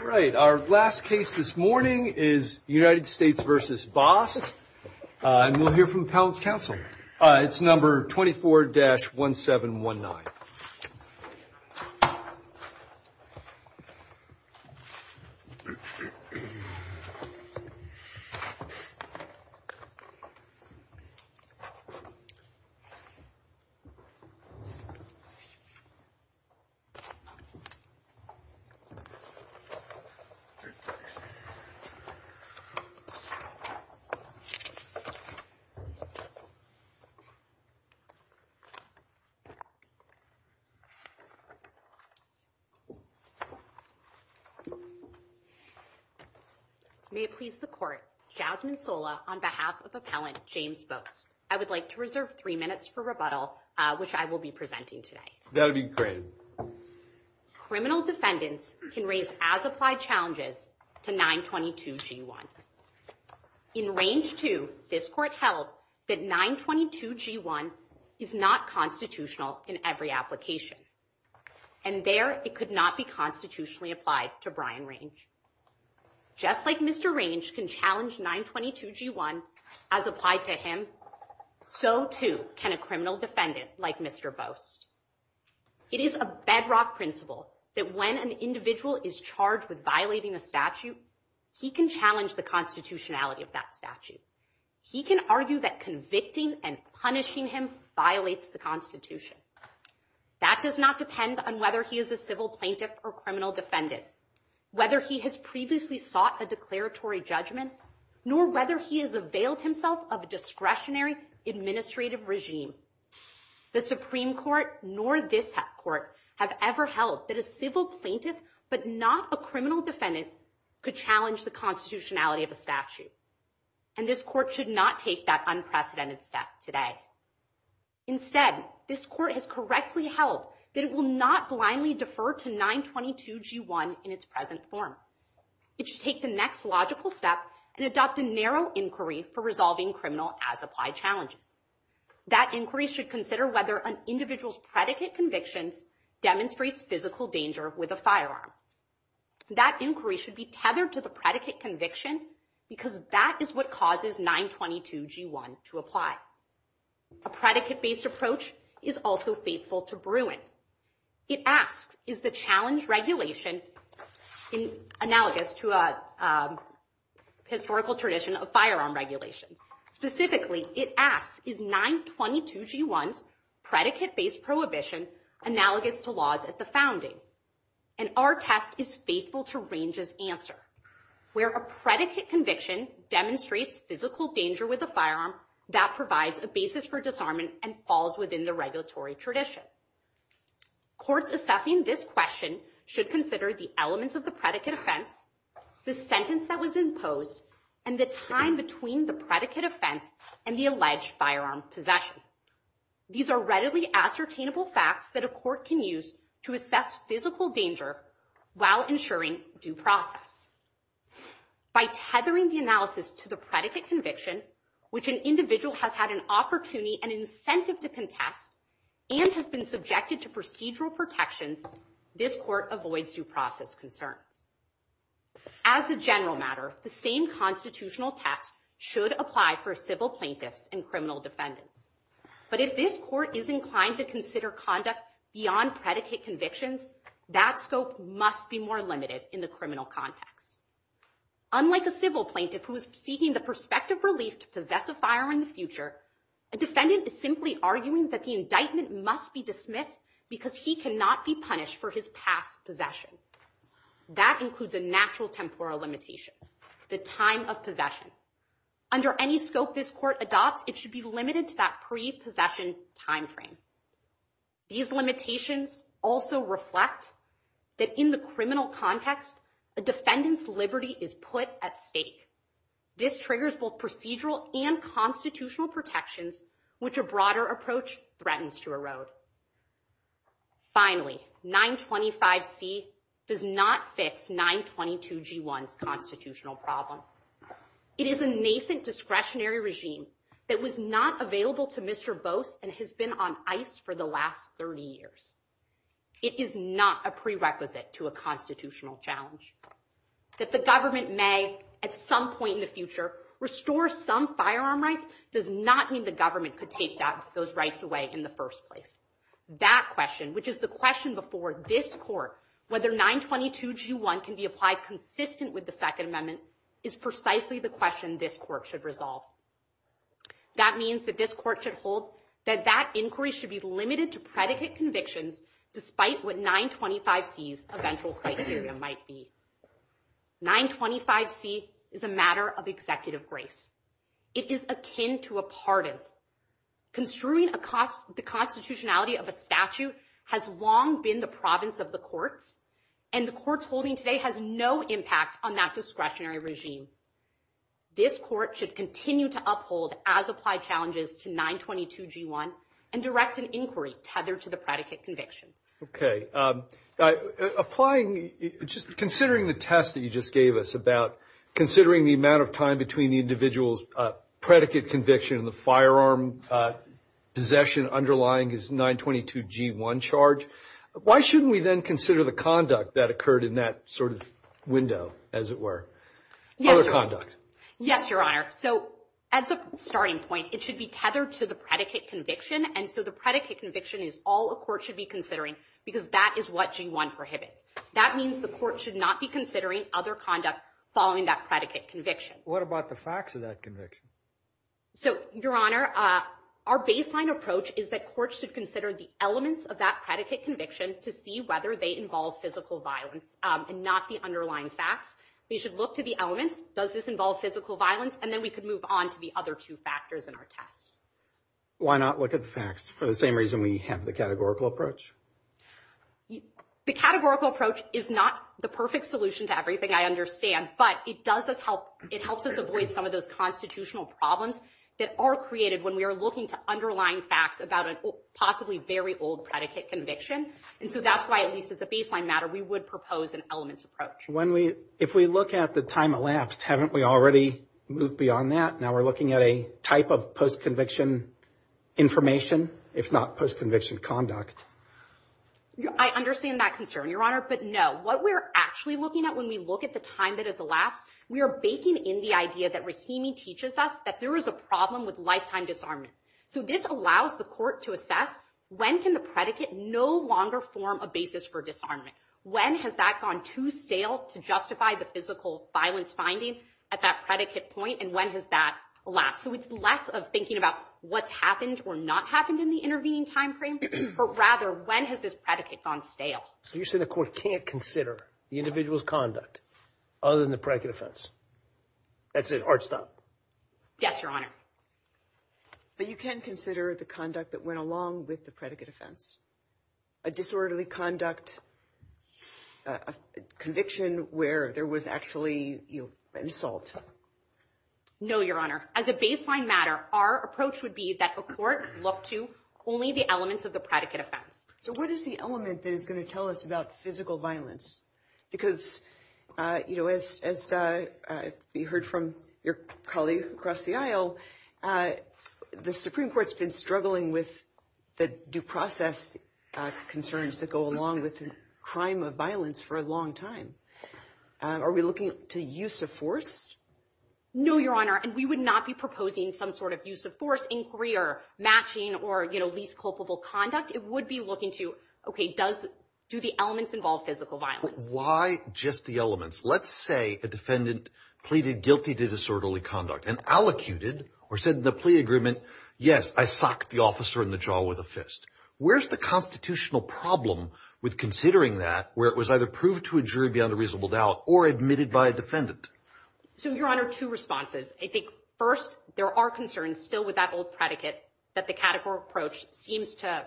All right, our last case this morning is United States v. Bost, and we'll hear from the Pounds Council. It's number 24-1719. May it please the court, Jasmine Sola on behalf of Appellant James Bost, I would like to reserve three minutes for rebuttal, which I will be presenting today. That'd be great. Criminal defendants can raise as applied challenges to 922-G1. In Range 2, this court held that 922-G1 is not constitutional in every application, and there it could not be constitutionally applied to Brian Range. Just like Mr. Range can challenge 922-G1 as applied to him, so too can a criminal defendant like Mr. Bost. It is a bedrock principle that when an individual is charged with violating a statute, he can challenge the constitutionality of that statute. He can argue that convicting and punishing him violates the Constitution. That does not depend on whether he is a civil plaintiff or criminal defendant, whether he has previously sought a declaratory judgment, nor whether he has availed himself of a discretionary administrative regime. The Supreme Court nor this court have ever held that a civil plaintiff but not a criminal defendant could challenge the constitutionality of a statute. And this court should not take that unprecedented step today. Instead, this court has correctly held that it will not blindly defer to 922-G1 in its present form. It should take the next logical step and adopt a narrow inquiry for resolving criminal as applied challenges. That inquiry should consider whether an individual's predicate convictions demonstrates physical danger with a firearm. That inquiry should be tethered to the predicate conviction because that is what causes 922-G1 to apply. A predicate-based approach is also faithful to Bruin. It asks, is the challenge regulation analogous to a historical tradition of firearm regulations? Specifically, it asks, is 922-G1's predicate-based prohibition analogous to laws at the founding? And our test is faithful to Range's answer, where a predicate conviction demonstrates physical danger with a firearm that provides a basis for disarmament and falls within the regulatory tradition. Courts assessing this question should consider the elements of the predicate offense, the sentence that was imposed, and the time between the predicate offense and the alleged firearm possession. These are readily ascertainable facts that a court can use to assess physical danger while ensuring due process. By tethering the analysis to the predicate conviction, which an individual has had an opportunity and incentive to contest and has been subjected to procedural protections, this court avoids due process concerns. As a general matter, the same constitutional test should apply for civil plaintiffs and criminal defendants. But if this court is inclined to consider conduct beyond predicate convictions, that scope must be more limited in the criminal context. Unlike a civil plaintiff who is seeking the prospective relief to possess a firearm in the future, a defendant is simply arguing that the indictment must be dismissed because he cannot be punished for his past possession. That includes a natural temporal limitation, the time of possession. Under any scope this court adopts, it should be limited to that pre-possession timeframe. These limitations also reflect that in the criminal context, a defendant's liberty is put at stake. This triggers both procedural and constitutional protections, which a broader approach threatens to erode. Finally, 925C does not fix 922G1's constitutional problem. It is a nascent discretionary regime that was not available to Mr. Bose and has been on ice for the last 30 years. It is not a prerequisite to a constitutional challenge. That the government may, at some point in the future, restore some firearm rights does not mean the government could take those rights away in the first place. That question, which is the question before this court, whether 922G1 can be applied consistent with the Second Amendment, is precisely the question this court should resolve. That means that this court should hold that that inquiry should be limited to predicate convictions, despite what 925C's eventual criteria might be. 925C is a matter of executive grace. It is akin to a pardon. Construing the constitutionality of a statute has long been the province of the courts, and the courts holding today has no impact on that discretionary regime. This court should continue to uphold as applied challenges to 922G1 and direct an inquiry tethered to the predicate conviction. Applying, just considering the test that you just gave us about considering the amount of time between the individual's predicate conviction and the firearm possession underlying his 922G1 charge, why shouldn't we then consider the conduct that occurred in that sort of window, as it were? Other conduct. Yes, Your Honor. So, as a starting point, it should be tethered to the predicate conviction. And so the predicate conviction is all a court should be considering, because that is what G1 prohibits. That means the court should not be considering other conduct following that predicate conviction. What about the facts of that conviction? So, Your Honor, our baseline approach is that courts should consider the elements of that predicate conviction to see whether they involve physical violence and not the underlying facts. We should look to the elements. Does this involve physical violence? And then we could move on to the other two factors in our test. Why not look at the facts for the same reason we have the categorical approach? The categorical approach is not the perfect solution to everything, I understand. But it does help. It helps us avoid some of those constitutional problems that are created when we are looking to underlying facts about a possibly very old predicate conviction. And so that's why, at least as a baseline matter, we would propose an elements approach. If we look at the time elapsed, haven't we already moved beyond that? Now we're looking at a type of post-conviction information, if not post-conviction conduct. I understand that concern, Your Honor. But, no, what we're actually looking at when we look at the time that has elapsed, we are baking in the idea that Rahimi teaches us that there is a problem with lifetime disarmament. So this allows the court to assess when can the predicate no longer form a basis for disarmament. When has that gone too stale to justify the physical violence finding at that predicate point? And when has that elapsed? So it's less of thinking about what's happened or not happened in the intervening time frame, but rather when has this predicate gone stale? So you're saying the court can't consider the individual's conduct other than the predicate offense? That's it. Art, stop. Yes, Your Honor. But you can consider the conduct that went along with the predicate offense. A disorderly conduct, a conviction where there was actually an assault. No, Your Honor. As a baseline matter, our approach would be that the court look to only the elements of the predicate offense. So what is the element that is going to tell us about physical violence? Because, you know, as you heard from your colleague across the aisle, the Supreme Court's been struggling with the due process concerns that go along with the crime of violence for a long time. Are we looking to use of force? No, Your Honor, and we would not be proposing some sort of use of force inquiry or matching or, you know, least culpable conduct. It would be looking to, okay, do the elements involve physical violence? Why just the elements? Let's say a defendant pleaded guilty to disorderly conduct and allocuted or said in the plea agreement, yes, I socked the officer in the jaw with a fist. Where's the constitutional problem with considering that where it was either proved to a jury beyond a reasonable doubt or admitted by a defendant? So, Your Honor, two responses. I think, first, there are concerns still with that old predicate that the categorical approach seems to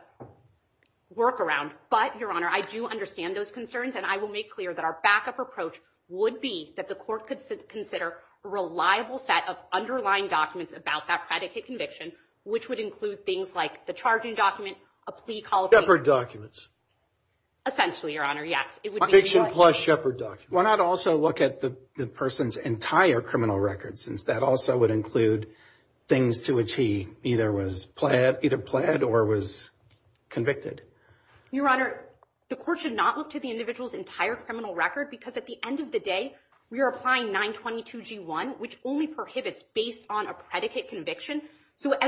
work around. But, Your Honor, I do understand those concerns, and I will make clear that our backup approach would be that the court could consider a reliable set of underlying documents about that predicate conviction, which would include things like the charging document, a plea call. Shepherd documents. Essentially, Your Honor, yes. Conviction plus Shepherd documents. Why not also look at the person's entire criminal record since that also would include things to which he either was either pled or was convicted? Your Honor, the court should not look to the individual's entire criminal record because at the end of the day, we are applying 922G1, which only prohibits based on a predicate conviction. We're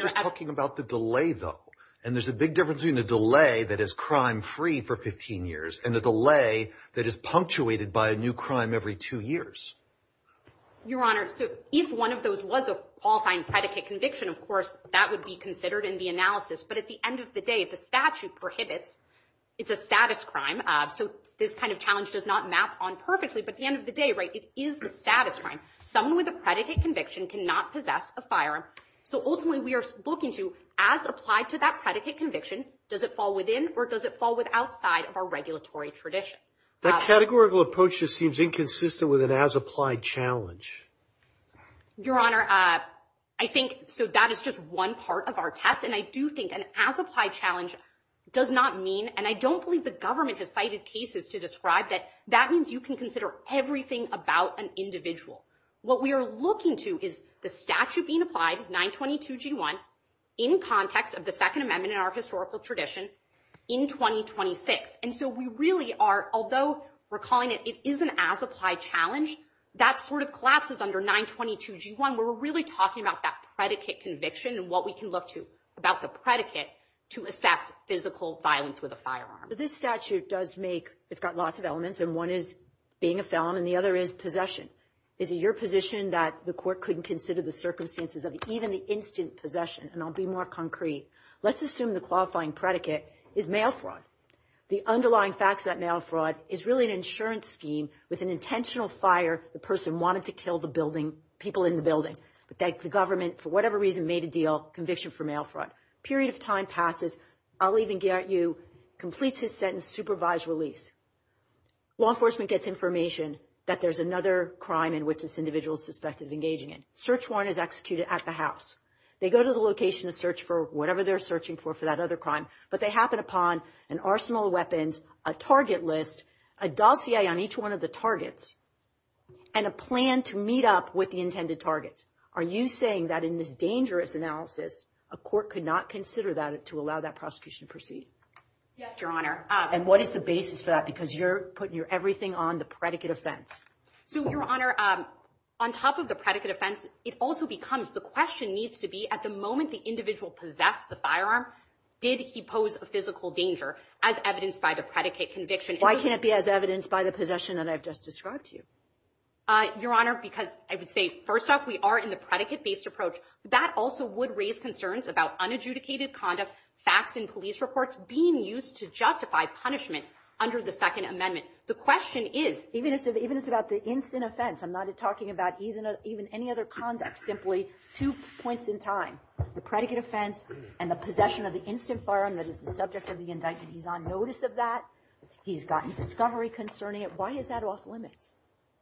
just talking about the delay, though. And there's a big difference between the delay that is crime-free for 15 years and the delay that is punctuated by a new crime every two years. Your Honor, if one of those was a qualifying predicate conviction, of course, that would be considered in the analysis. But at the end of the day, the statute prohibits. It's a status crime. So this kind of challenge does not map on perfectly. But at the end of the day, it is a status crime. Someone with a predicate conviction cannot possess a firearm. So ultimately, we are looking to, as applied to that predicate conviction, does it fall within or does it fall outside of our regulatory tradition? That categorical approach just seems inconsistent with an as-applied challenge. Your Honor, I think so. That is just one part of our test. And I do think an as-applied challenge does not mean, and I don't believe the government has cited cases to describe that, that means you can consider everything about an individual. What we are looking to is the statute being applied, 922G1, in context of the Second Amendment in our historical tradition in 2026. And so we really are, although we're calling it, it is an as-applied challenge, that sort of collapses under 922G1. We're really talking about that predicate conviction and what we can look to about the predicate to assess physical violence with a firearm. But this statute does make, it's got lots of elements, and one is being a felon and the other is possession. Is it your position that the court couldn't consider the circumstances of even the instant possession? And I'll be more concrete. Let's assume the qualifying predicate is mail fraud. The underlying facts of that mail fraud is really an insurance scheme with an intentional fire, the person wanted to kill the building, people in the building. But the government, for whatever reason, made a deal, conviction for mail fraud. A period of time passes. I'll even guarantee you, completes his sentence, supervised release. Law enforcement gets information that there's another crime in which this individual is suspected of engaging in. Search warrant is executed at the house. They go to the location to search for whatever they're searching for, for that other crime. But they happen upon an arsenal of weapons, a target list, a dossier on each one of the targets, and a plan to meet up with the intended targets. Are you saying that in this dangerous analysis, a court could not consider that to allow that prosecution to proceed? Yes, Your Honor. And what is the basis for that? Because you're putting your everything on the predicate offense. So, Your Honor, on top of the predicate offense, it also becomes the question needs to be at the moment the individual possessed the firearm, did he pose a physical danger as evidenced by the predicate conviction? Why can't it be as evidenced by the possession that I've just described to you? Your Honor, because I would say, first off, we are in the predicate-based approach. That also would raise concerns about unadjudicated conduct, facts in police reports being used to justify punishment under the Second Amendment. The question is, even if it's about the instant offense, I'm not talking about even any other conduct, simply two points in time, the predicate offense and the possession of the instant firearm that is the subject of the indictment. He's on notice of that. He's gotten discovery concerning it. Why is that off limits?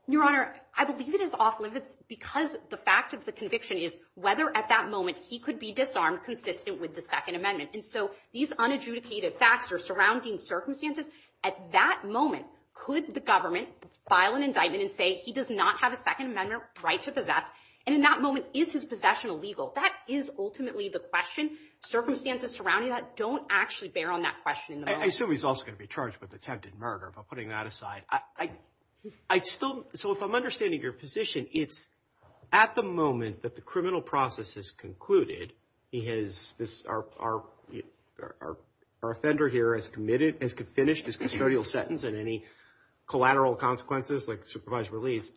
Your Honor, I believe it is off limits because the fact of the conviction is whether at that moment he could be disarmed consistent with the Second Amendment. And so these unadjudicated facts are surrounding circumstances. At that moment, could the government file an indictment and say he does not have a Second Amendment right to possess? And in that moment, is his possession illegal? That is ultimately the question. Circumstances surrounding that don't actually bear on that question. I assume he's also going to be charged with attempted murder. If I'm putting that aside, I still so if I'm understanding your position, it's at the moment that the criminal process is concluded. He has this are our offender here as committed as could finish his custodial sentence and any collateral consequences like supervised release.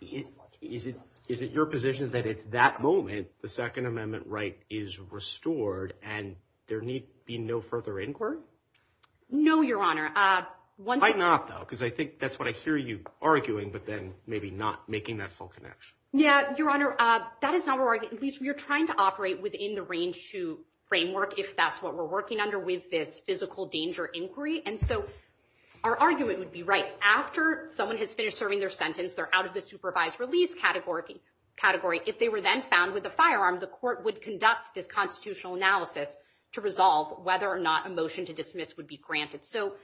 Is it is it your position that at that moment, the Second Amendment right is restored and there need be no further inquiry? No, Your Honor. Why not, though? Because I think that's what I hear you arguing. But then maybe not making that full connection. Yeah. Your Honor, that is not right. At least we are trying to operate within the range to framework if that's what we're working under with this physical danger inquiry. And so our argument would be right after someone has finished serving their sentence. They're out of the supervised release category category. If they were then found with a firearm, the court would conduct this constitutional analysis to resolve whether or not a motion to dismiss would be granted. So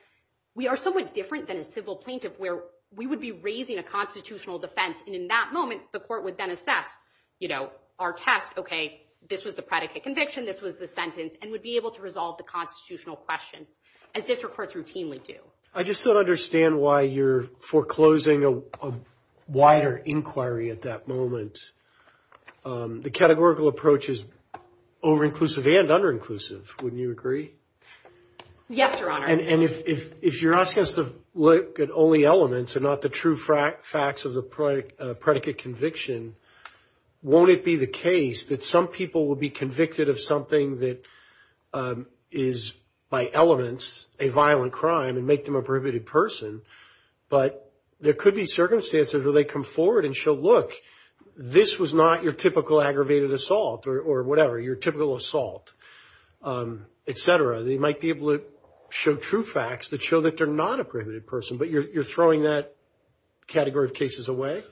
we are somewhat different than a civil plaintiff where we would be raising a constitutional defense. And in that moment, the court would then assess, you know, our test. OK, this was the predicate conviction. This was the sentence and would be able to resolve the constitutional question. I just don't understand why you're foreclosing a wider inquiry at that moment. The categorical approach is over-inclusive and under-inclusive. Wouldn't you agree? Yes, Your Honor. And if you're asking us to look at only elements and not the true facts of the predicate conviction, won't it be the case that some people would be convicted of something that is, by elements, a violent crime and make them a prohibited person? But there could be circumstances where they come forward and show, look, this was not your typical aggravated assault or whatever, your typical assault, et cetera. They might be able to show true facts that show that they're not a prohibited person. But you're throwing that category of cases away?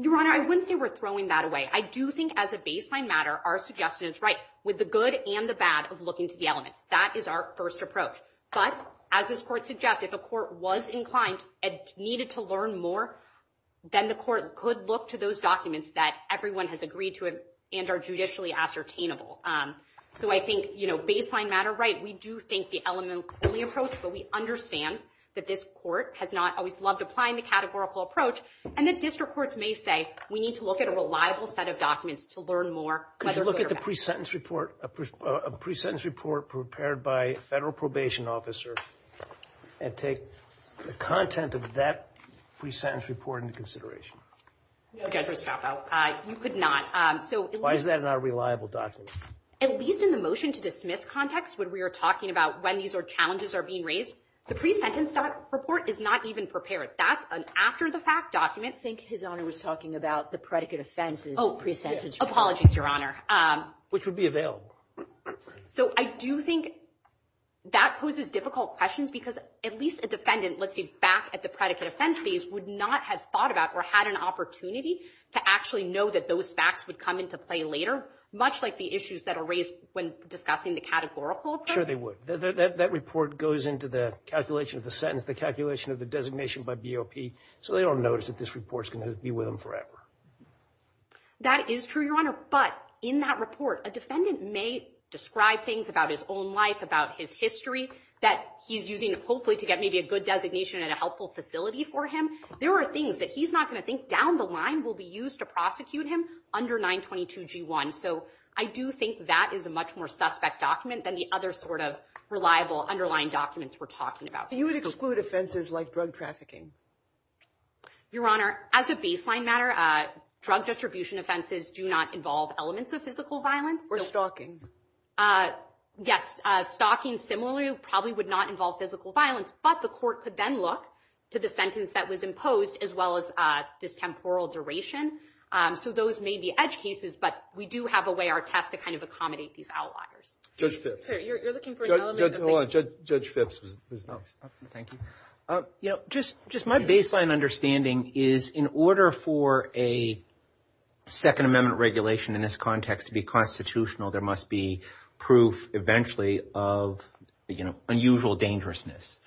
Your Honor, I wouldn't say we're throwing that away. I do think, as a baseline matter, our suggestion is right with the good and the bad of looking to the elements. That is our first approach. But, as this Court suggested, if a court was inclined and needed to learn more, then the court could look to those documents that everyone has agreed to and are judicially ascertainable. So I think, baseline matter, right, we do think the elements only approach, but we understand that this Court has not always loved applying the categorical approach. And the district courts may say, we need to look at a reliable set of documents to learn more. Could you look at the pre-sentence report prepared by a federal probation officer and take the content of that pre-sentence report into consideration? You could not. Why is that not a reliable document? At least in the motion-to-dismiss context, when we are talking about when these challenges are being raised, the pre-sentence report is not even prepared. That's an after-the-fact document. I think His Honor was talking about the predicate offenses pre-sentence report. Oh, apologies, Your Honor. Which would be available. So I do think that poses difficult questions because at least a defendant, let's say, back at the predicate offense phase would not have thought about or had an opportunity to actually know that those facts would come into play later, much like the issues that are raised when discussing the categorical approach. Sure they would. That report goes into the calculation of the sentence, the calculation of the designation by BOP, so they don't notice that this report is going to be with them forever. That is true, Your Honor. But in that report, a defendant may describe things about his own life, about his history, that he's using hopefully to get maybe a good designation at a helpful facility for him. There are things that he's not going to think down the line will be used to prosecute him under 922G1. So I do think that is a much more suspect document than the other sort of reliable, underlying documents we're talking about. So you would exclude offenses like drug trafficking? Your Honor, as a baseline matter, drug distribution offenses do not involve elements of physical violence. Or stalking. Yes, stalking similarly probably would not involve physical violence, but the court could then look to the sentence that was imposed as well as this temporal duration. So those may be edge cases, but we do have a way, our test, to kind of accommodate these outliers. Hold on, Judge Phipps was next. Thank you. You know, just my baseline understanding is in order for a Second Amendment regulation in this context to be constitutional, there must be proof eventually of, you know, unusual dangerousness.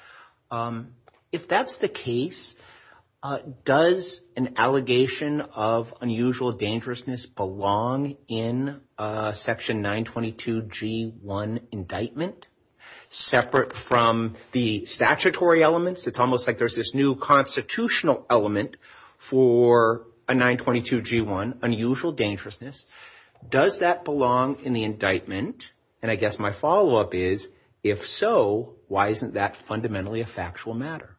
If that's the case, does an allegation of unusual dangerousness belong in Section 922G1 indictment? Separate from the statutory elements, it's almost like there's this new constitutional element for a 922G1, unusual dangerousness. Does that belong in the indictment? And I guess my follow-up is, if so, why isn't that fundamentally a factual matter?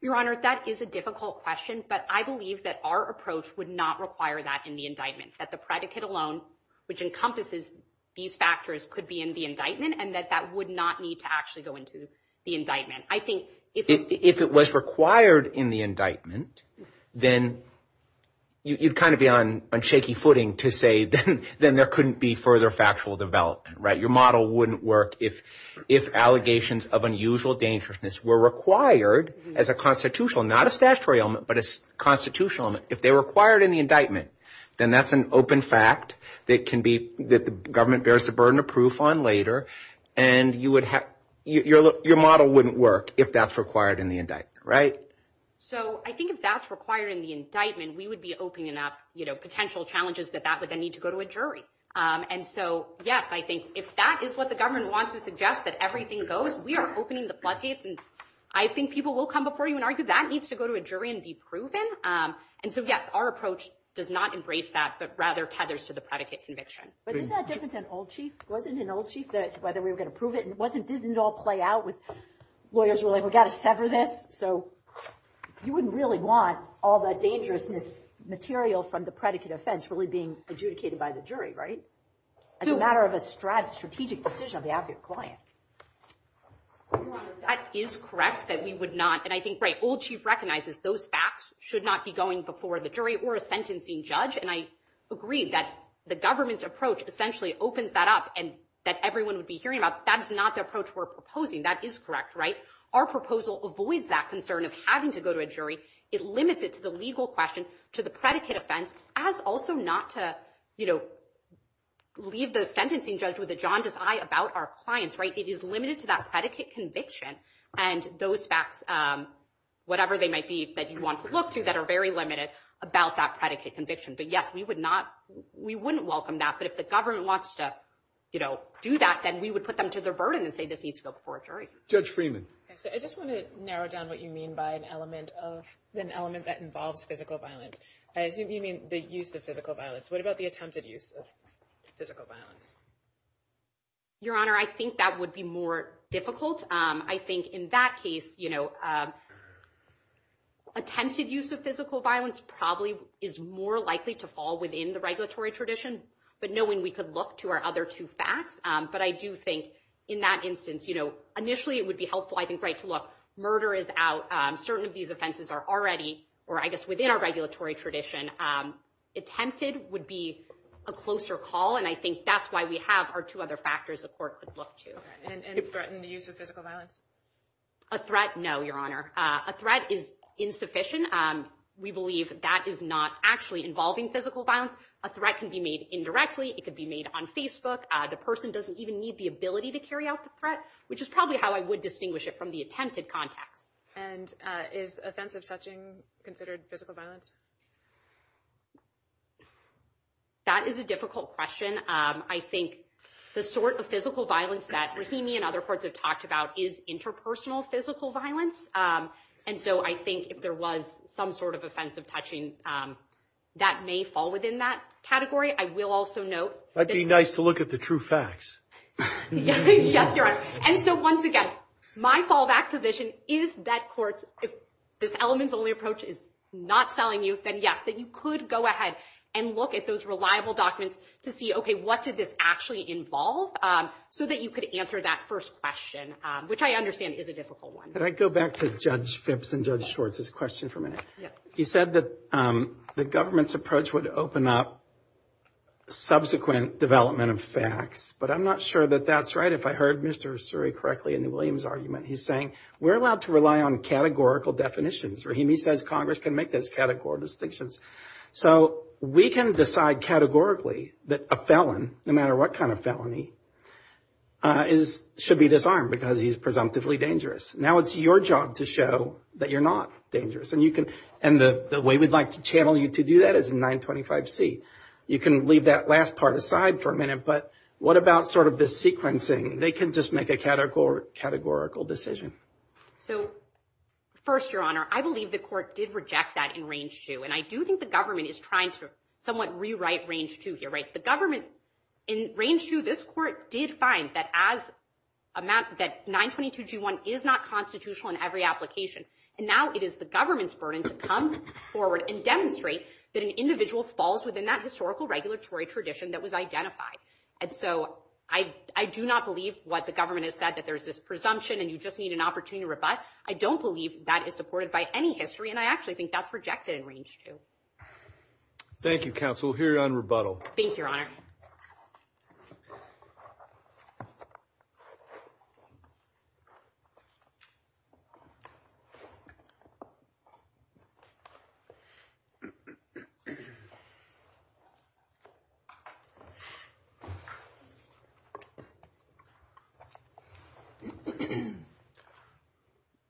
Your Honor, that is a difficult question, but I believe that our approach would not require that in the indictment. That the predicate alone, which encompasses these factors, could be in the indictment, and that that would not need to actually go into the indictment. If it was required in the indictment, then you'd kind of be on shaky footing to say, then there couldn't be further factual development, right? Your model wouldn't work if allegations of unusual dangerousness were required as a constitutional, not a statutory element, but a constitutional element. If they're required in the indictment, then that's an open fact that the government bears the burden of proof on later, and your model wouldn't work if that's required in the indictment, right? So I think if that's required in the indictment, we would be opening up potential challenges that that would then need to go to a jury. And so, yes, I think if that is what the government wants to suggest, that everything goes, we are opening the floodgates, and I think people will come before you and argue that needs to go to a jury and be proven. And so, yes, our approach does not embrace that, but rather tethers to the predicate conviction. But isn't that different than Old Chief? Wasn't it in Old Chief that whether we were going to prove it? Didn't it all play out with lawyers were like, we've got to sever this? So you wouldn't really want all that dangerousness material from the predicate offense really being adjudicated by the jury, right? As a matter of a strategic decision on behalf of your client. Your Honor, that is correct that we would not, and I think Old Chief recognizes those facts should not be going before the jury or a sentencing judge, and I agree that the government's approach essentially opens that up and that everyone would be hearing about. That is not the approach we're proposing. That is correct, right? Our proposal avoids that concern of having to go to a jury. It limits it to the legal question, to the predicate offense, as also not to, you know, leave the sentencing judge with a jaundiced eye about our clients, right? It is limited to that predicate conviction and those facts, whatever they might be that you want to look to that are very limited about that predicate conviction. But yes, we would not, we wouldn't welcome that. But if the government wants to, you know, do that, then we would put them to their burden and say this needs to go before a jury. Judge Freeman. I just want to narrow down what you mean by an element of, an element that involves physical violence. I assume you mean the use of physical violence. What about the attempted use of physical violence? Your Honor, I think that would be more difficult. I think in that case, you know, attempted use of physical violence probably is more likely to fall within the regulatory tradition, but knowing we could look to our other two facts. But I do think in that instance, you know, initially it would be helpful, I think, right to look. Murder is out. Certain of these offenses are already, or I guess within our regulatory tradition. Attempted would be a closer call, and I think that's why we have our two other factors a court could look to. And threatened use of physical violence. A threat. No, Your Honor. A threat is insufficient. We believe that is not actually involving physical violence. A threat can be made indirectly. It could be made on Facebook. The person doesn't even need the ability to carry out the threat, which is probably how I would distinguish it from the attempted context. And is offensive touching considered physical violence? That is a difficult question. I think the sort of physical violence that Rahimi and other courts have talked about is interpersonal physical violence. And so I think if there was some sort of offensive touching, that may fall within that category. I will also note. That'd be nice to look at the true facts. Yes, Your Honor. And so once again, my fallback position is that courts, if this elements only approach is not selling you, then yes, that you could go ahead and look at those reliable documents to see, okay, what did this actually involve? So that you could answer that first question, which I understand is a difficult one. Can I go back to Judge Phipps and Judge Schwartz's question for a minute? He said that the government's approach would open up subsequent development of facts. But I'm not sure that that's right. If I heard Mr. Suri correctly in the Williams argument, he's saying we're allowed to rely on categorical definitions. Rahimi says Congress can make those categorical distinctions. So we can decide categorically that a felon, no matter what kind of felony, should be disarmed because he's presumptively dangerous. Now it's your job to show that you're not dangerous. And the way we'd like to channel you to do that is in 925C. You can leave that last part aside for a minute. But what about sort of the sequencing? They can just make a categorical decision. So first, Your Honor, I believe the court did reject that in Range 2. And I do think the government is trying to somewhat rewrite Range 2 here, right? The government in Range 2, this court did find that 922G1 is not constitutional in every application. And now it is the government's burden to come forward and demonstrate that an individual falls within that historical regulatory tradition that was identified. And so I do not believe what the government has said, that there's this presumption and you just need an opportunity to rebut. I don't believe that is supported by any history. And I actually think that's rejected in Range 2. Thank you, counsel. We'll hear you on rebuttal. Thank you, Your Honor.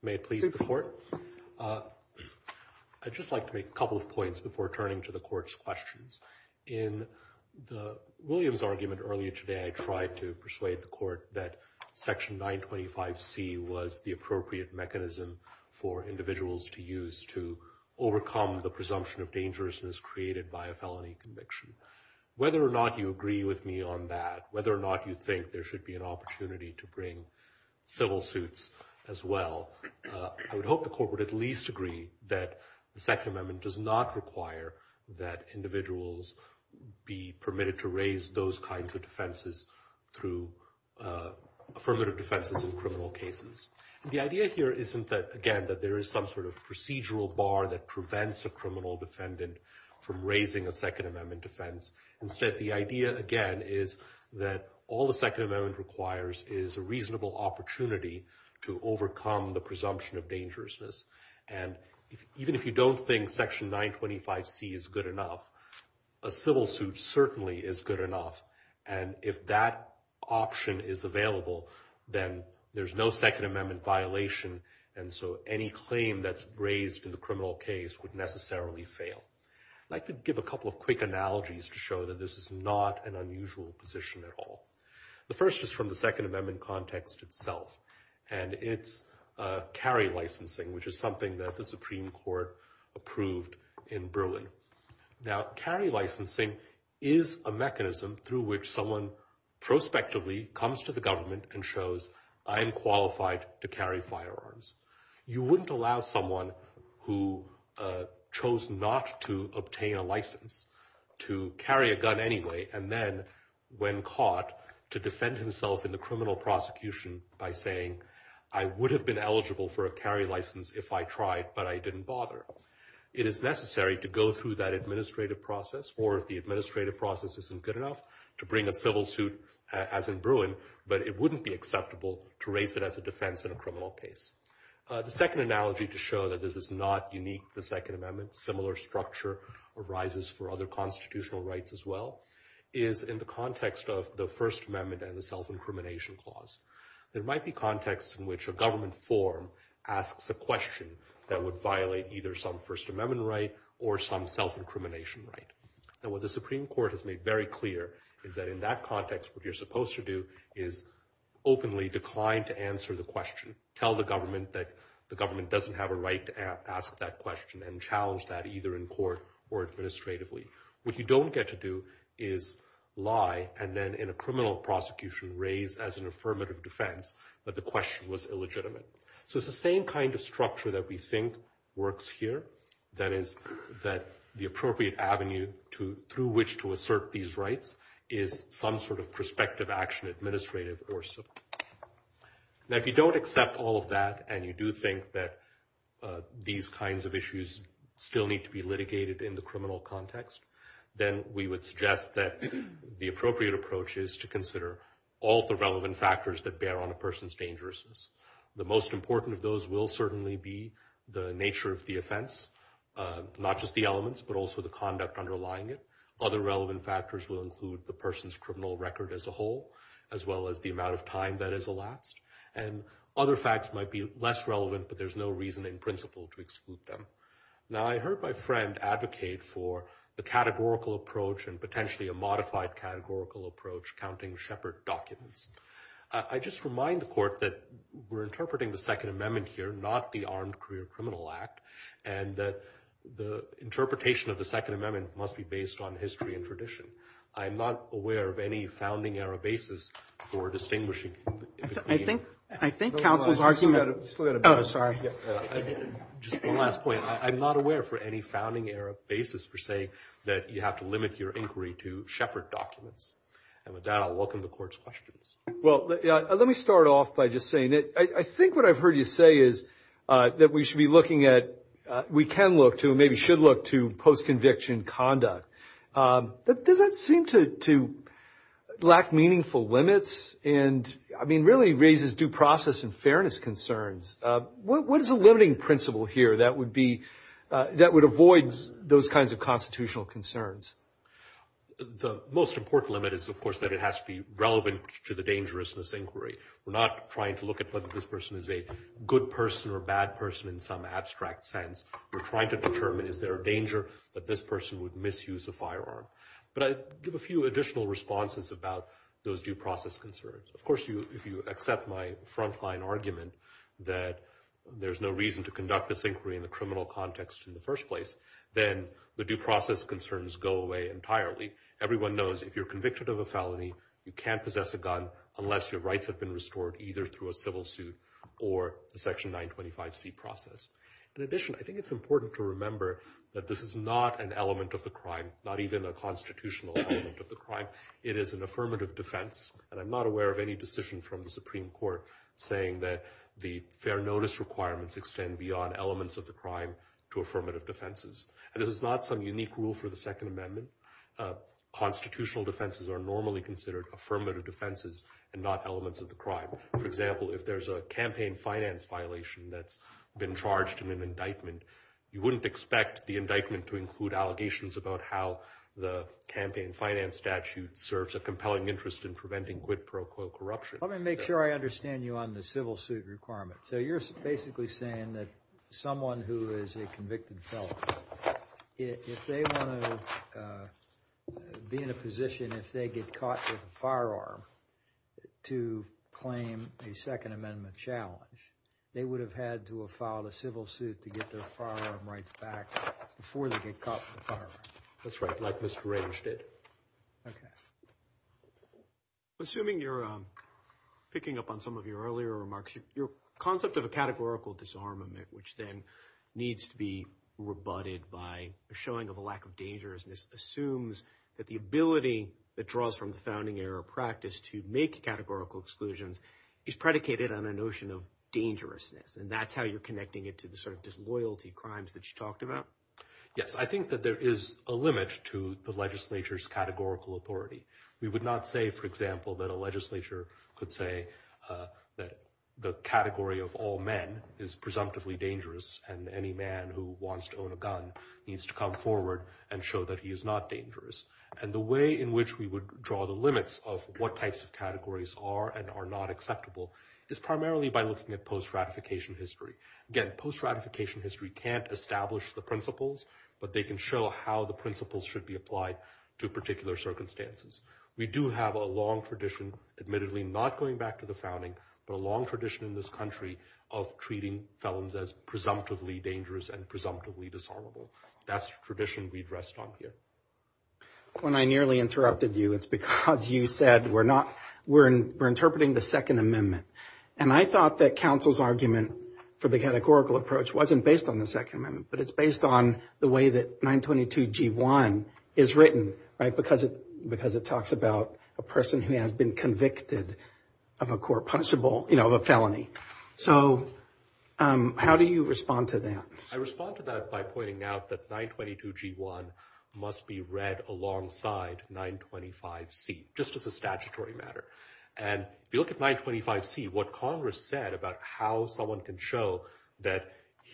May it please the court. I'd just like to make a couple of points before turning to the court's questions. In William's argument earlier today, I tried to persuade the court that Section 925C was the appropriate mechanism for individuals to use to overcome the presumption of dangerousness created by a felony conviction. Whether or not you agree with me on that, whether or not you think there should be an opportunity to bring civil suits as well, I would hope the court would at least agree that the Second Amendment does not require that individuals be permitted to raise those kinds of defenses through affirmative defenses in criminal cases. The idea here isn't that, again, that there is some sort of procedural bar that prevents a criminal defendant from raising a Second Amendment defense. Instead, the idea, again, is that all the Second Amendment requires is a reasonable opportunity to overcome the presumption of dangerousness. And even if you don't think Section 925C is good enough, a civil suit certainly is good enough. And if that option is available, then there's no Second Amendment violation, and so any claim that's raised in the criminal case would necessarily fail. I'd like to give a couple of quick analogies to show that this is not an unusual position at all. The first is from the Second Amendment context itself, and it's carry licensing, which is something that the Supreme Court approved in Berlin. Now, carry licensing is a mechanism through which someone prospectively comes to the government and shows, I'm qualified to carry firearms. You wouldn't allow someone who chose not to obtain a license to carry a gun anyway and then, when caught, to defend himself in the criminal prosecution by saying, I would have been eligible for a carry license if I tried, but I didn't bother. It is necessary to go through that administrative process, or if the administrative process isn't good enough, to bring a civil suit, as in Bruin, but it wouldn't be acceptable to raise it as a defense in a criminal case. The second analogy to show that this is not unique to the Second Amendment, similar structure arises for other constitutional rights as well, is in the context of the First Amendment and the self-incrimination clause. There might be contexts in which a government form asks a question that would violate either some First Amendment right or some self-incrimination right. Now, what the Supreme Court has made very clear is that in that context, what you're supposed to do is openly decline to answer the question. Tell the government that the government doesn't have a right to ask that question and challenge that either in court or administratively. What you don't get to do is lie and then, in a criminal prosecution, raise as an affirmative defense that the question was illegitimate. So it's the same kind of structure that we think works here, that is, that the appropriate avenue through which to assert these rights is some sort of prospective action, administrative or civil. Now, if you don't accept all of that and you do think that these kinds of issues still need to be litigated in the criminal context, then we would suggest that the appropriate approach is to consider all the relevant factors that bear on a person's dangerousness. The most important of those will certainly be the nature of the offense, not just the elements, but also the conduct underlying it. Other relevant factors will include the person's criminal record as a whole, as well as the amount of time that is elapsed. And other facts might be less relevant, but there's no reason in principle to exclude them. Now, I heard my friend advocate for the categorical approach and potentially a modified categorical approach, counting Shepard documents. I just remind the Court that we're interpreting the Second Amendment here, not the Armed Career Criminal Act, and that the interpretation of the Second Amendment must be based on history and tradition. I'm not aware of any founding era basis for distinguishing. I think counsel's argument. Oh, sorry. Just one last point. I'm not aware for any founding era basis for saying that you have to limit your inquiry to Shepard documents. And with that, I'll welcome the Court's questions. Well, let me start off by just saying that I think what I've heard you say is that we should be looking at what we can look to and maybe should look to post-conviction conduct. But does that seem to lack meaningful limits and, I mean, really raises due process and fairness concerns? What is the limiting principle here that would avoid those kinds of constitutional concerns? The most important limit is, of course, that it has to be relevant to the dangerousness inquiry. We're not trying to look at whether this person is a good person or a bad person in some abstract sense. We're trying to determine is there a danger that this person would misuse a firearm. But I'd give a few additional responses about those due process concerns. Of course, if you accept my frontline argument that there's no reason to conduct this inquiry in the criminal context in the first place, then the due process concerns go away entirely. Everyone knows if you're convicted of a felony, you can't possess a gun unless your rights have been restored, either through a civil suit or the Section 925C process. In addition, I think it's important to remember that this is not an element of the crime, not even a constitutional element of the crime. It is an affirmative defense, and I'm not aware of any decision from the Supreme Court saying that the fair notice requirements extend beyond elements of the crime to affirmative defenses. And this is not some unique rule for the Second Amendment. Constitutional defenses are normally considered affirmative defenses and not elements of the crime. For example, if there's a campaign finance violation that's been charged in an indictment, you wouldn't expect the indictment to include allegations about how the campaign finance statute serves a compelling interest in preventing quid pro quo corruption. Let me make sure I understand you on the civil suit requirements. So you're basically saying that someone who is a convicted felon, if they want to be in a position, if they get caught with a firearm to claim a Second Amendment challenge, they would have had to have filed a civil suit to get their firearm rights back before they get caught with a firearm. That's right, like Mr. Rage did. Okay. Assuming you're picking up on some of your earlier remarks, your concept of a categorical disarmament, which then needs to be rebutted by a showing of a lack of dangerousness, assumes that the ability that draws from the founding era practice to make categorical exclusions is predicated on a notion of dangerousness. And that's how you're connecting it to the sort of disloyalty crimes that you talked about. Yes, I think that there is a limit to the legislature's categorical authority. We would not say, for example, that a legislature could say that the category of all men is presumptively dangerous and any man who wants to own a gun needs to come forward and show that he is not dangerous. And the way in which we would draw the limits of what types of categories are and are not acceptable is primarily by looking at post-ratification history. Again, post-ratification history can't establish the principles, but they can show how the principles should be applied to particular circumstances. We do have a long tradition, admittedly not going back to the founding, but a long tradition in this country of treating felons as presumptively dangerous and presumptively dishonorable. That's the tradition we'd rest on here. When I nearly interrupted you, it's because you said we're interpreting the Second Amendment. And I thought that counsel's argument for the categorical approach wasn't based on the Second Amendment, but it's based on the way that 922G1 is written, right, because it talks about a person who has been convicted of a court-punishable, you know, a felony. So how do you respond to that? I respond to that by pointing out that 922G1 must be read alongside 925C, just as a statutory matter. And if you look at 925C, what Congress said about how someone can show that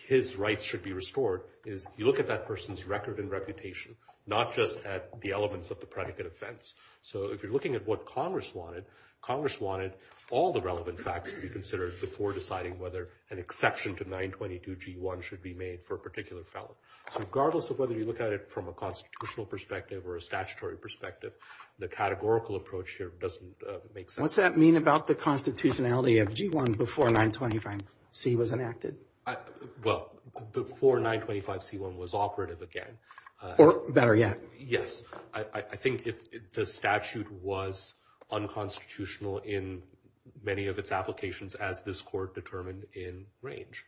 his rights should be restored is you look at that person's record and reputation, not just at the elements of the predicate offense. So if you're looking at what Congress wanted, Congress wanted all the relevant facts to be considered before deciding whether an exception to 922G1 should be made for a particular felon. So regardless of whether you look at it from a constitutional perspective or a statutory perspective, the categorical approach here doesn't make sense. What's that mean about the constitutionality of G1 before 925C was enacted? Well, before 925C1 was operative again. Or better yet. Yes. I think the statute was unconstitutional in many of its applications as this Court determined in range.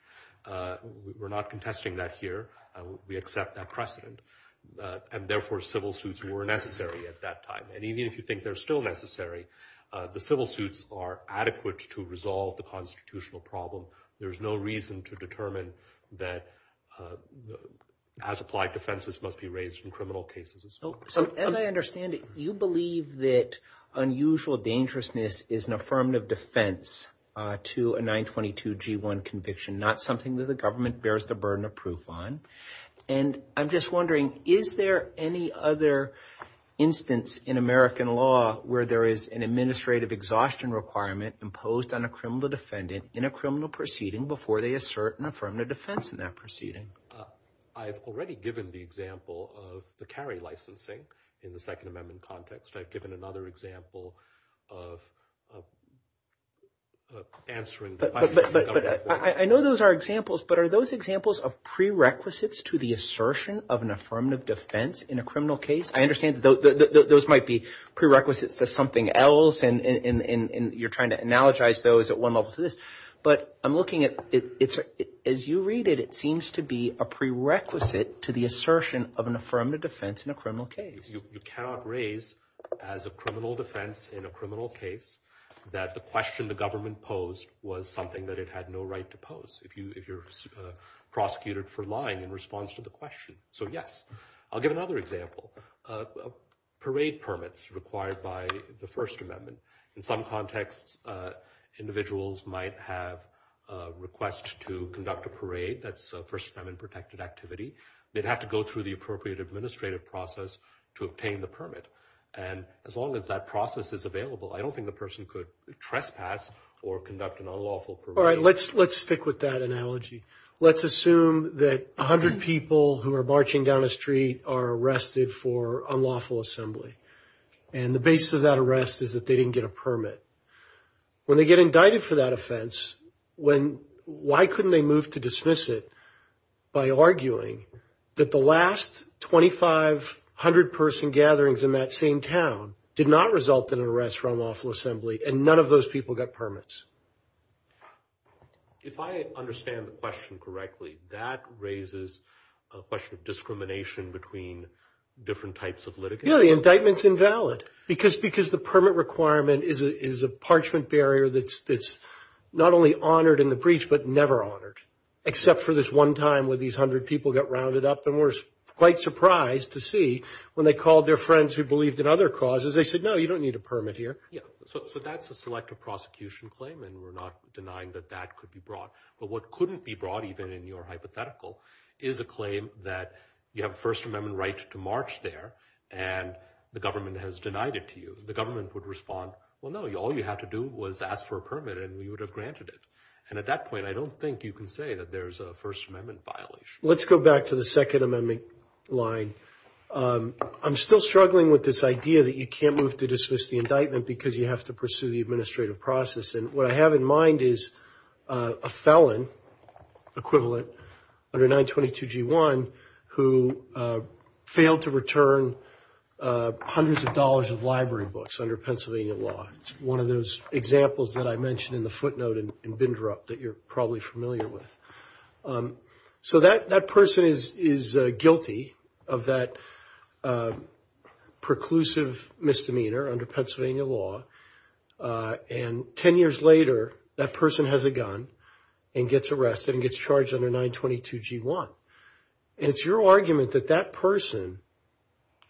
We're not contesting that here. We accept that precedent. And therefore civil suits were necessary at that time. And even if you think they're still necessary, the civil suits are adequate to resolve the constitutional problem. There's no reason to determine that as applied defenses must be raised in criminal cases. So as I understand it, you believe that unusual dangerousness is an affirmative defense to a 922G1 conviction, not something that the government bears the burden of proof on. And I'm just wondering, is there any other instance in American law where there is an administrative exhaustion requirement imposed on a criminal defendant in a criminal proceeding before they assert an affirmative defense in that proceeding? I've already given the example of the carry licensing in the Second Amendment context. I've given another example of answering the question. I know those are examples, but are those examples of prerequisites to the assertion of an affirmative defense in a criminal case? I understand those might be prerequisites to something else, and you're trying to analogize those at one level to this. But I'm looking at it. As you read it, it seems to be a prerequisite to the assertion of an affirmative defense in a criminal case. You cannot raise as a criminal defense in a criminal case that the question the government posed was something that it had no right to pose, if you're prosecuted for lying in response to the question. So, yes, I'll give another example. Parade permits required by the First Amendment. In some contexts, individuals might have a request to conduct a parade. That's a First Amendment-protected activity. They'd have to go through the appropriate administrative process to obtain the permit. And as long as that process is available, I don't think the person could trespass or conduct an unlawful parade. All right, let's stick with that analogy. Let's assume that 100 people who are marching down a street are arrested for unlawful assembly, and the basis of that arrest is that they didn't get a permit. When they get indicted for that offense, why couldn't they move to dismiss it by arguing that the last 2,500-person gatherings in that same town did not result in an arrest for unlawful assembly, and none of those people got permits? If I understand the question correctly, that raises a question of discrimination between different types of litigants? Yeah, the indictment's invalid because the permit requirement is a parchment barrier that's not only honored in the breach, but never honored, except for this one time where these 100 people got rounded up and were quite surprised to see when they called their friends who believed in other causes, they said, no, you don't need a permit here. Yeah, so that's a selective prosecution claim, and we're not denying that that could be brought. But what couldn't be brought, even in your hypothetical, is a claim that you have a First Amendment right to march there, and the government has denied it to you. The government would respond, well, no, all you had to do was ask for a permit, and we would have granted it. And at that point, I don't think you can say that there's a First Amendment violation. Let's go back to the Second Amendment line. I'm still struggling with this idea that you can't move to dismiss the indictment because you have to pursue the administrative process. And what I have in mind is a felon, equivalent, under 922G1, who failed to return hundreds of dollars of library books under Pennsylvania law. It's one of those examples that I mentioned in the footnote in Bindrup that you're probably familiar with. So that person is guilty of that preclusive misdemeanor under Pennsylvania law. And 10 years later, that person has a gun and gets arrested and gets charged under 922G1. And it's your argument that that person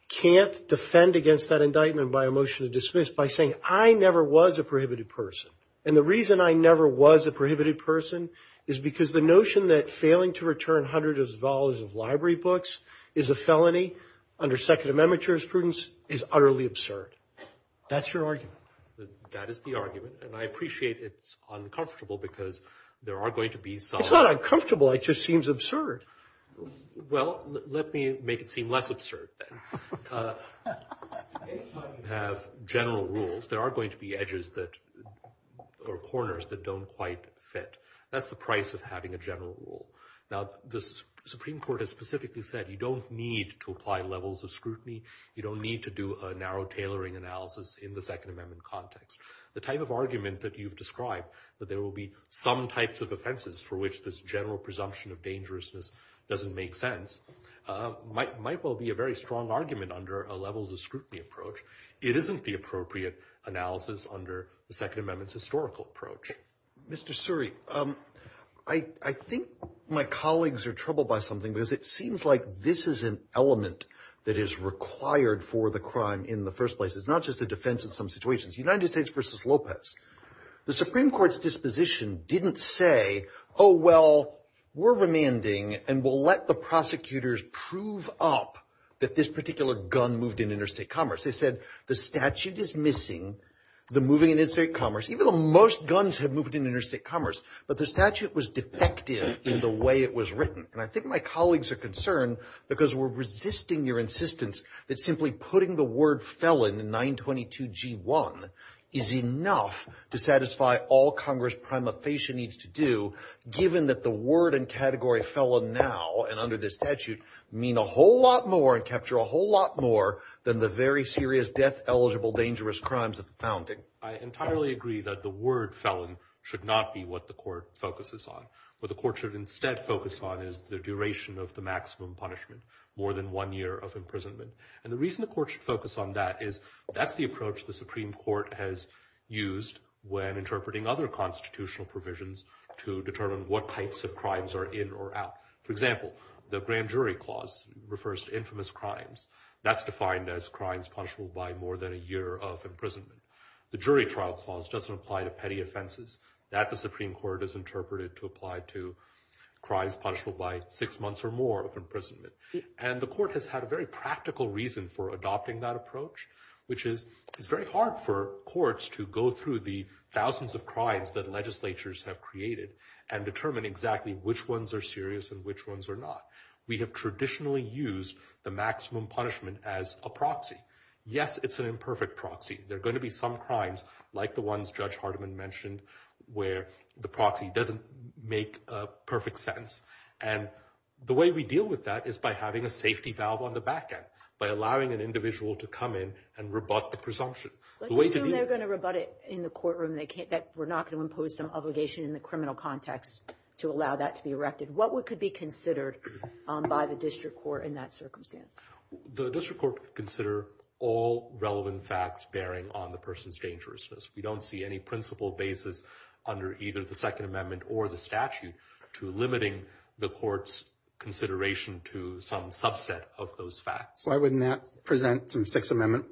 can't defend against that indictment by a motion to dismiss by saying, I never was a prohibited person. And the reason I never was a prohibited person is because the notion that failing to return hundreds of dollars of library books is a felony under Second Amendment jurisprudence is utterly absurd. That's your argument? That is the argument. And I appreciate it's uncomfortable because there are going to be some. It's not uncomfortable. It just seems absurd. Well, let me make it seem less absurd then. If you have general rules, there are going to be edges that or corners that don't quite fit. That's the price of having a general rule. Now, the Supreme Court has specifically said you don't need to apply levels of scrutiny. You don't need to do a narrow tailoring analysis in the Second Amendment context. The type of argument that you've described, that there will be some types of offenses for which this general presumption of dangerousness doesn't make sense, might well be a very strong argument under a levels of scrutiny approach. It isn't the appropriate analysis under the Second Amendment's historical approach. Mr. Suri, I think my colleagues are troubled by something because it seems like this is an element that is required for the crime in the first place. It's not just a defense in some situations. United States versus Lopez. The Supreme Court's disposition didn't say, oh, well, we're remanding and we'll let the prosecutors prove up that this particular gun moved in interstate commerce. They said the statute is missing, the moving in interstate commerce, even though most guns have moved in interstate commerce, but the statute was defective in the way it was written. And I think my colleagues are concerned because we're resisting your insistence that simply putting the word felon in 922G1 is enough to satisfy all Congress' prima facie needs to do, I entirely agree that the word felon should not be what the court focuses on. What the court should instead focus on is the duration of the maximum punishment, more than one year of imprisonment. And the reason the court should focus on that is that's the approach the Supreme Court has used when interpreting other constitutional provisions to determine what types of crimes are in or out. For example, the grand jury clause refers to infamous crimes. That's defined as crimes punishable by more than a year of imprisonment. The jury trial clause doesn't apply to petty offenses. That, the Supreme Court has interpreted to apply to crimes punishable by six months or more of imprisonment. And the court has had a very practical reason for adopting that approach, which is it's very hard for courts to go through the thousands of crimes that legislatures have created and determine exactly which ones are serious and which ones are not. We have traditionally used the maximum punishment as a proxy. Yes, it's an imperfect proxy. There are going to be some crimes, like the ones Judge Hardiman mentioned, where the proxy doesn't make perfect sense. And the way we deal with that is by having a safety valve on the back end, by allowing an individual to come in and rebut the presumption. Let's assume they're going to rebut it in the courtroom, that we're not going to impose some obligation in the criminal context to allow that to be erected. What could be considered by the district court in that circumstance? The district court could consider all relevant facts bearing on the person's dangerousness. We don't see any principle basis under either the Second Amendment or the statute to limiting the court's consideration to some subset of those facts. Why wouldn't that present some Sixth Amendment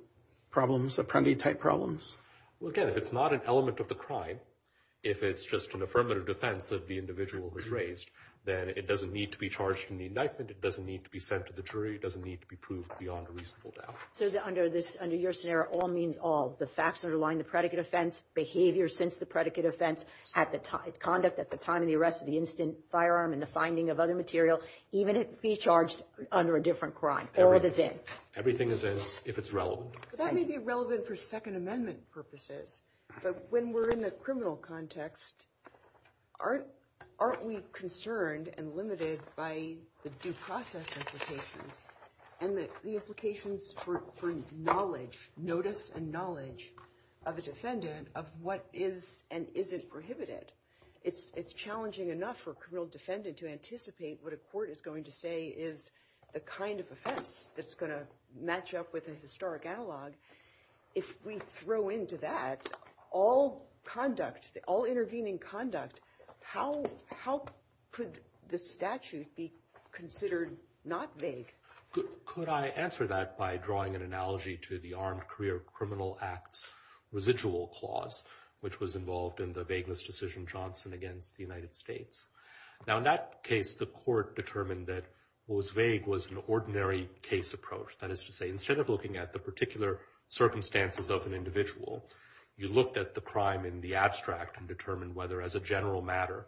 problems, Apprendi-type problems? Well, again, if it's not an element of the crime, if it's just an affirmative defense that the individual has raised, then it doesn't need to be charged in the indictment. It doesn't need to be sent to the jury. It doesn't need to be proved beyond a reasonable doubt. So under your scenario, all means all, the facts underlying the predicate offense, behavior since the predicate offense, conduct at the time of the arrest of the instant firearm and the finding of other material, even it be charged under a different crime. All of it's in. Everything is in if it's relevant. That may be relevant for Second Amendment purposes. But when we're in the criminal context, aren't we concerned and limited by the due process implications and the implications for knowledge, notice and knowledge of a defendant of what is and isn't prohibited? It's challenging enough for a criminal defendant to anticipate what a court is going to say is the kind of offense that's going to match up with a historic analog. If we throw into that all conduct, all intervening conduct, how could the statute be considered not vague? Could I answer that by drawing an analogy to the Armed Career Criminal Act's residual clause, which was involved in the vagueness decision Johnson against the United States? Now, in that case, the court determined that what was vague was an ordinary case approach. That is to say, instead of looking at the particular circumstances of an individual, you looked at the crime in the abstract and determined whether, as a general matter,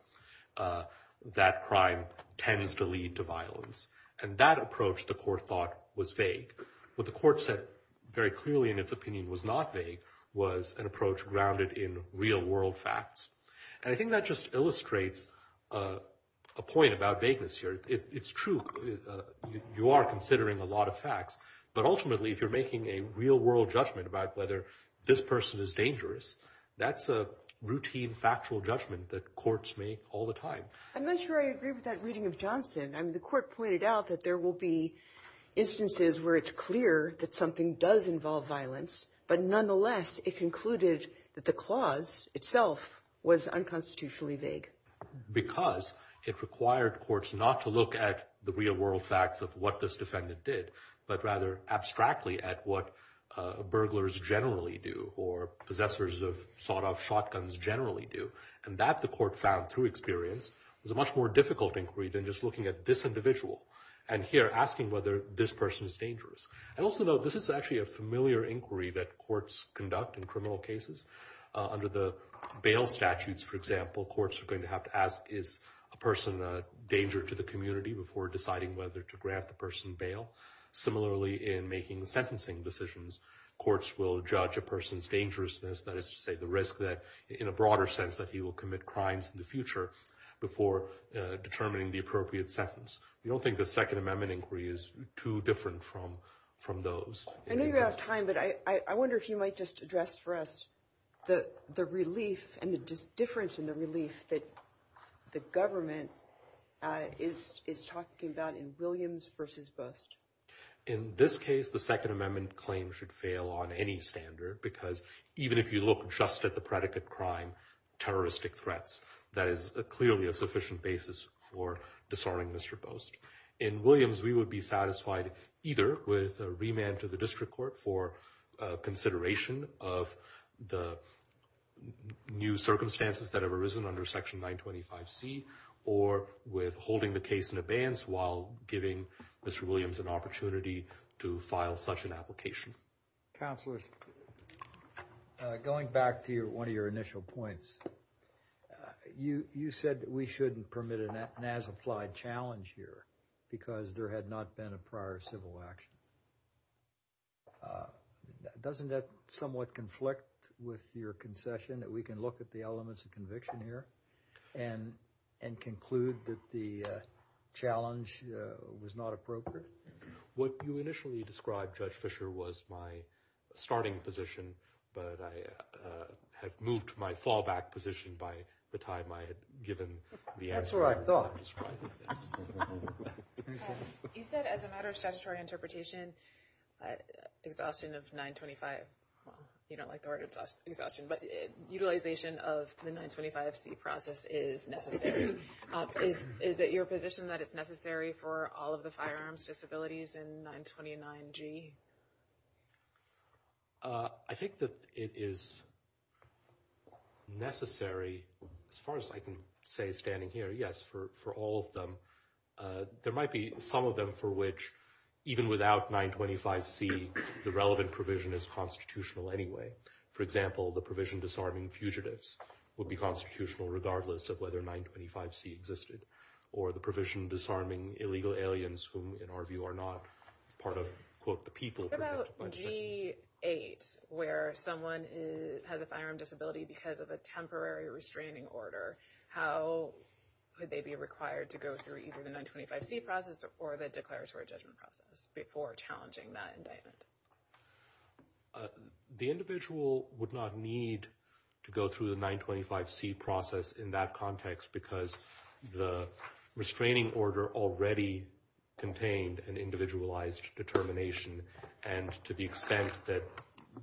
that crime tends to lead to violence. And that approach, the court thought, was vague. What the court said very clearly in its opinion was not vague, was an approach grounded in real world facts. And I think that just illustrates a point about vagueness here. It's true. You are considering a lot of facts. But ultimately, if you're making a real world judgment about whether this person is dangerous, that's a routine factual judgment that courts make all the time. I'm not sure I agree with that reading of Johnson. I mean, the court pointed out that there will be instances where it's clear that something does involve violence. But nonetheless, it concluded that the clause itself was unconstitutionally vague. Because it required courts not to look at the real world facts of what this defendant did, but rather abstractly at what burglars generally do or possessors of sawed-off shotguns generally do. And that, the court found through experience, was a much more difficult inquiry than just looking at this individual and here asking whether this person is dangerous. I also note this is actually a familiar inquiry that courts conduct in criminal cases. Under the bail statutes, for example, courts are going to have to ask, is a person a danger to the community before deciding whether to grant the person bail? Similarly, in making sentencing decisions, courts will judge a person's dangerousness, that is to say the risk that, in a broader sense, that he will commit crimes in the future before determining the appropriate sentence. We don't think the Second Amendment inquiry is too different from those. I know you're out of time, but I wonder if you might just address for us the relief and the difference in the relief that the government is talking about in Williams v. Bust. In this case, the Second Amendment claim should fail on any standard, because even if you look just at the predicate crime, terroristic threats, that is clearly a sufficient basis for disarming Mr. Bust. In Williams, we would be satisfied either with a remand to the district court for consideration of the new circumstances that have arisen under Section 925C or with holding the case in abeyance while giving Mr. Williams an opportunity to file such an application. Counselors, going back to one of your initial points, you said that we shouldn't permit an as-applied challenge here because there had not been a prior civil action. Doesn't that somewhat conflict with your concession that we can look at the elements of conviction here and conclude that the challenge was not appropriate? What you initially described, Judge Fischer, was my starting position, but I had moved to my fallback position by the time I had given the answer. That's what I thought. You said as a matter of statutory interpretation, exhaustion of 925—you don't like the word exhaustion— but utilization of the 925C process is necessary. Is it your position that it's necessary for all of the firearms disabilities in 929G? I think that it is necessary, as far as I can say standing here, yes, for all of them. There might be some of them for which, even without 925C, the relevant provision is constitutional anyway. For example, the provision disarming fugitives would be constitutional regardless of whether 925C existed, or the provision disarming illegal aliens who, in our view, are not part of, quote, the people— What about G8, where someone has a firearm disability because of a temporary restraining order? How would they be required to go through either the 925C process or the declaratory judgment process before challenging that indictment? The individual would not need to go through the 925C process in that context because the restraining order already contained an individualized determination, and to the extent that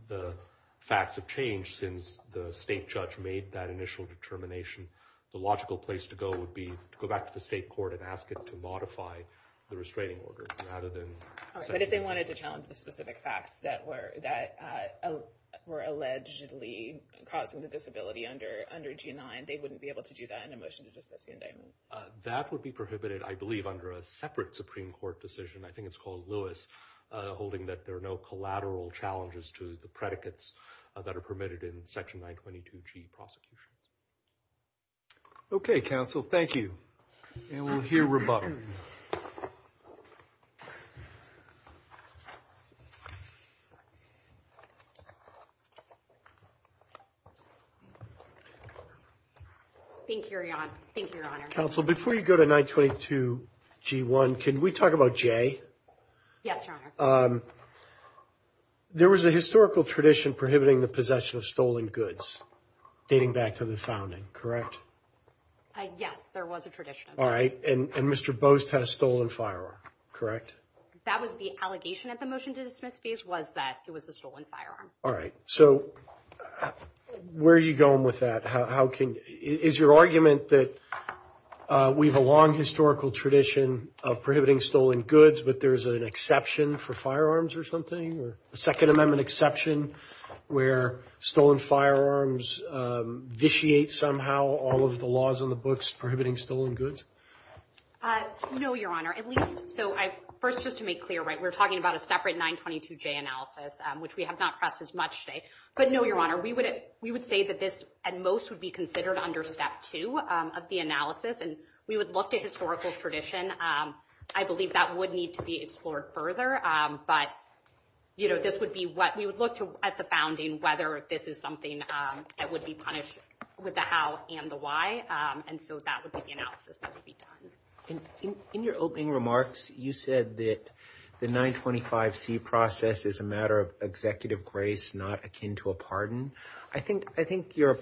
the facts have changed since the state judge made that initial determination, the logical place to go would be to go back to the state court and ask it to modify the restraining order rather than— But if they wanted to challenge the specific facts that were allegedly causing the disability under G9, they wouldn't be able to do that in a motion to dismiss the indictment? That would be prohibited, I believe, under a separate Supreme Court decision. I think it's called Lewis, holding that there are no collateral challenges to the predicates that are permitted in Section 922G prosecutions. Okay, counsel. Thank you. And we'll hear rebuttal. Thank you. Thank you, Your Honor. Thank you, Your Honor. Counsel, before you go to 922G1, can we talk about J? Yes, Your Honor. There was a historical tradition prohibiting the possession of stolen goods dating back to the founding, correct? Yes, there was a tradition of that. All right, and Mr. Boast had a stolen firearm, correct? That was the allegation at the motion-to-dismiss phase, was that it was a stolen firearm. All right, so where are you going with that? Is your argument that we have a long historical tradition of prohibiting stolen goods, but there's an exception for firearms or something, or a Second Amendment exception where stolen firearms vitiate somehow all of the laws on the books prohibiting stolen goods? No, Your Honor. First, just to make clear, we're talking about a separate 922J analysis, which we have not pressed as much today. But no, Your Honor, we would say that this, at most, would be considered under Step 2 of the analysis, and we would look at historical tradition. I believe that would need to be explored further, but we would look at the founding, whether this is something that would be punished with the how and the why, and so that would be the analysis that would be done. In your opening remarks, you said that the 925C process is a matter of executive grace, not akin to a pardon. I think your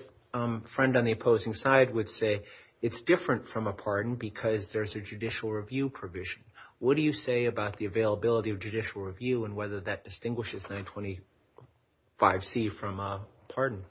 friend on the opposing side would say it's different from a pardon because there's a judicial review provision. What do you say about the availability of judicial review and whether that distinguishes 925C from a pardon?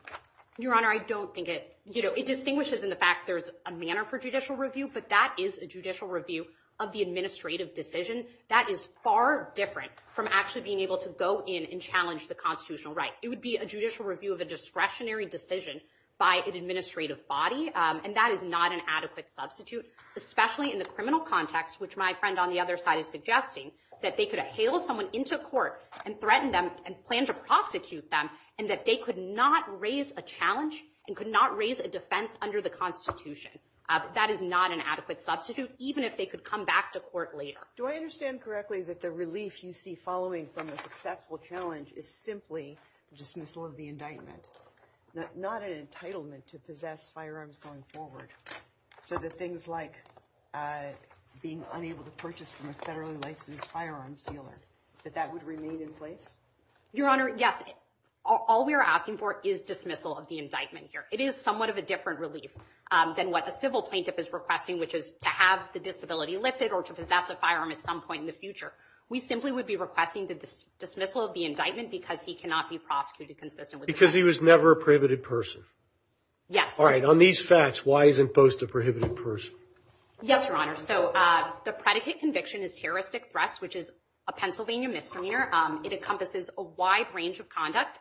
Your Honor, I don't think it. It distinguishes in the fact there's a manner for judicial review, but that is a judicial review of the administrative decision. That is far different from actually being able to go in and challenge the constitutional right. It would be a judicial review of a discretionary decision by an administrative body, and that is not an adequate substitute, especially in the criminal context, which my friend on the other side is suggesting, that they could hail someone into court and threaten them and plan to prosecute them, and that they could not raise a challenge and could not raise a defense under the Constitution. That is not an adequate substitute, even if they could come back to court later. Do I understand correctly that the relief you see following from a successful challenge is simply dismissal of the indictment, not an entitlement to possess firearms going forward, so that things like being unable to purchase from a federally licensed firearms dealer, that that would remain in place? Your Honor, yes. All we are asking for is dismissal of the indictment here. It is somewhat of a different relief than what a civil plaintiff is requesting, which is to have the disability lifted or to possess a firearm at some point in the future. We simply would be requesting the dismissal of the indictment because he cannot be prosecuted consistently. Because he was never a prohibited person? Yes. All right, on these facts, why isn't Bost a prohibited person? Yes, Your Honor. So the predicate conviction is terroristic threats, which is a Pennsylvania misdemeanor. It encompasses a wide range of conduct.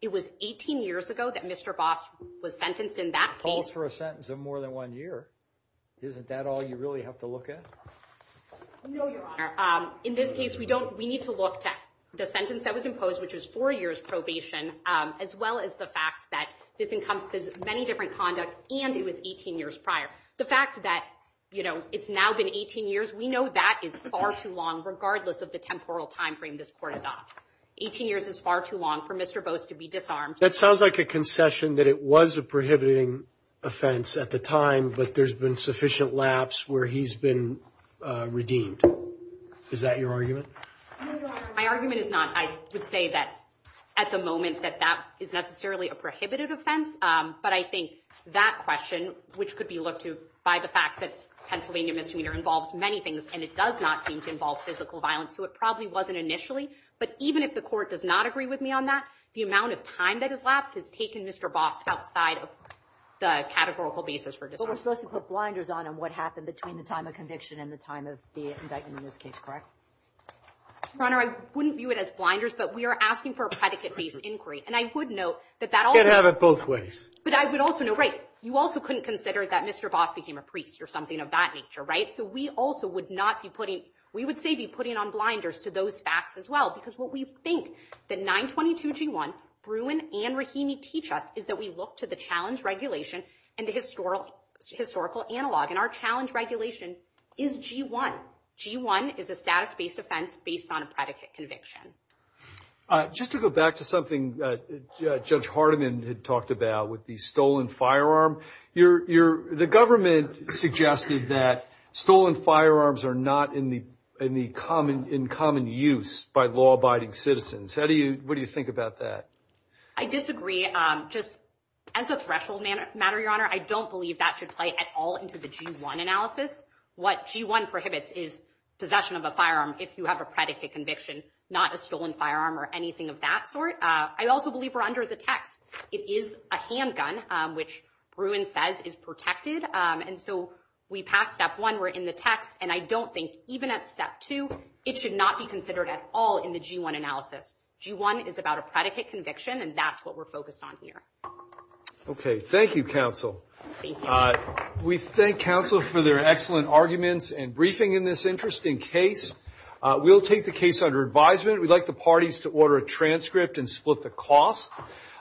It was 18 years ago that Mr. Bost was sentenced in that case. Falls for a sentence of more than one year. Isn't that all you really have to look at? No, Your Honor. In this case, we need to look to the sentence that was imposed, which was four years probation, as well as the fact that this encompasses many different conduct, and it was 18 years prior. The fact that it's now been 18 years, we know that is far too long, regardless of the temporal timeframe this court adopts. 18 years is far too long for Mr. Bost to be disarmed. That sounds like a concession that it was a prohibiting offense at the time, but there's been sufficient lapse where he's been redeemed. Is that your argument? No, Your Honor. My argument is not. I would say that at the moment that that is necessarily a prohibited offense. But I think that question, which could be looked to by the fact that Pennsylvania misdemeanor involves many things, and it does not seem to involve physical violence, so it probably wasn't initially. But even if the court does not agree with me on that, the amount of time that has lapsed has taken Mr. Bost outside of the categorical basis for disarmament. But we're supposed to put blinders on on what happened between the time of conviction and the time of the indictment in this case, correct? Your Honor, I wouldn't view it as blinders, but we are asking for a predicate-based inquiry, and I would note that that also- You could have it both ways. But I would also note, right, you also couldn't consider that Mr. Bost became a priest or something of that nature, right? So we also would not be putting, we would say be putting on blinders to those facts as well, because what we think that 922G1, Bruin, and Rahimi teach us is that we look to the challenge regulation and the historical analog. And our challenge regulation is G1. G1 is a status-based offense based on a predicate conviction. Just to go back to something that Judge Hardiman had talked about with the stolen firearm, the government suggested that stolen firearms are not in the common use by law-abiding citizens. What do you think about that? I disagree. Just as a threshold matter, Your Honor, I don't believe that should play at all into the G1 analysis. What G1 prohibits is possession of a firearm if you have a predicate conviction, not a stolen firearm or anything of that sort. I also believe we're under the text. It is a handgun, which Bruin says is protected. And so we pass step one. We're in the text. And I don't think even at step two, it should not be considered at all in the G1 analysis. G1 is about a predicate conviction, and that's what we're focused on here. Okay. Thank you, counsel. We thank counsel for their excellent arguments and briefing in this interesting case. We'll take the case under advisement. We'd like the parties to order a transcript and split the cost.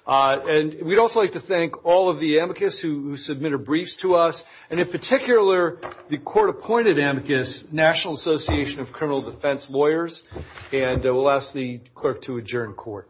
And we'd also like to thank all of the amicus who submitted briefs to us, and in particular, the court-appointed amicus, National Association of Criminal Defense Lawyers. And we'll ask the clerk to adjourn court. Thank you.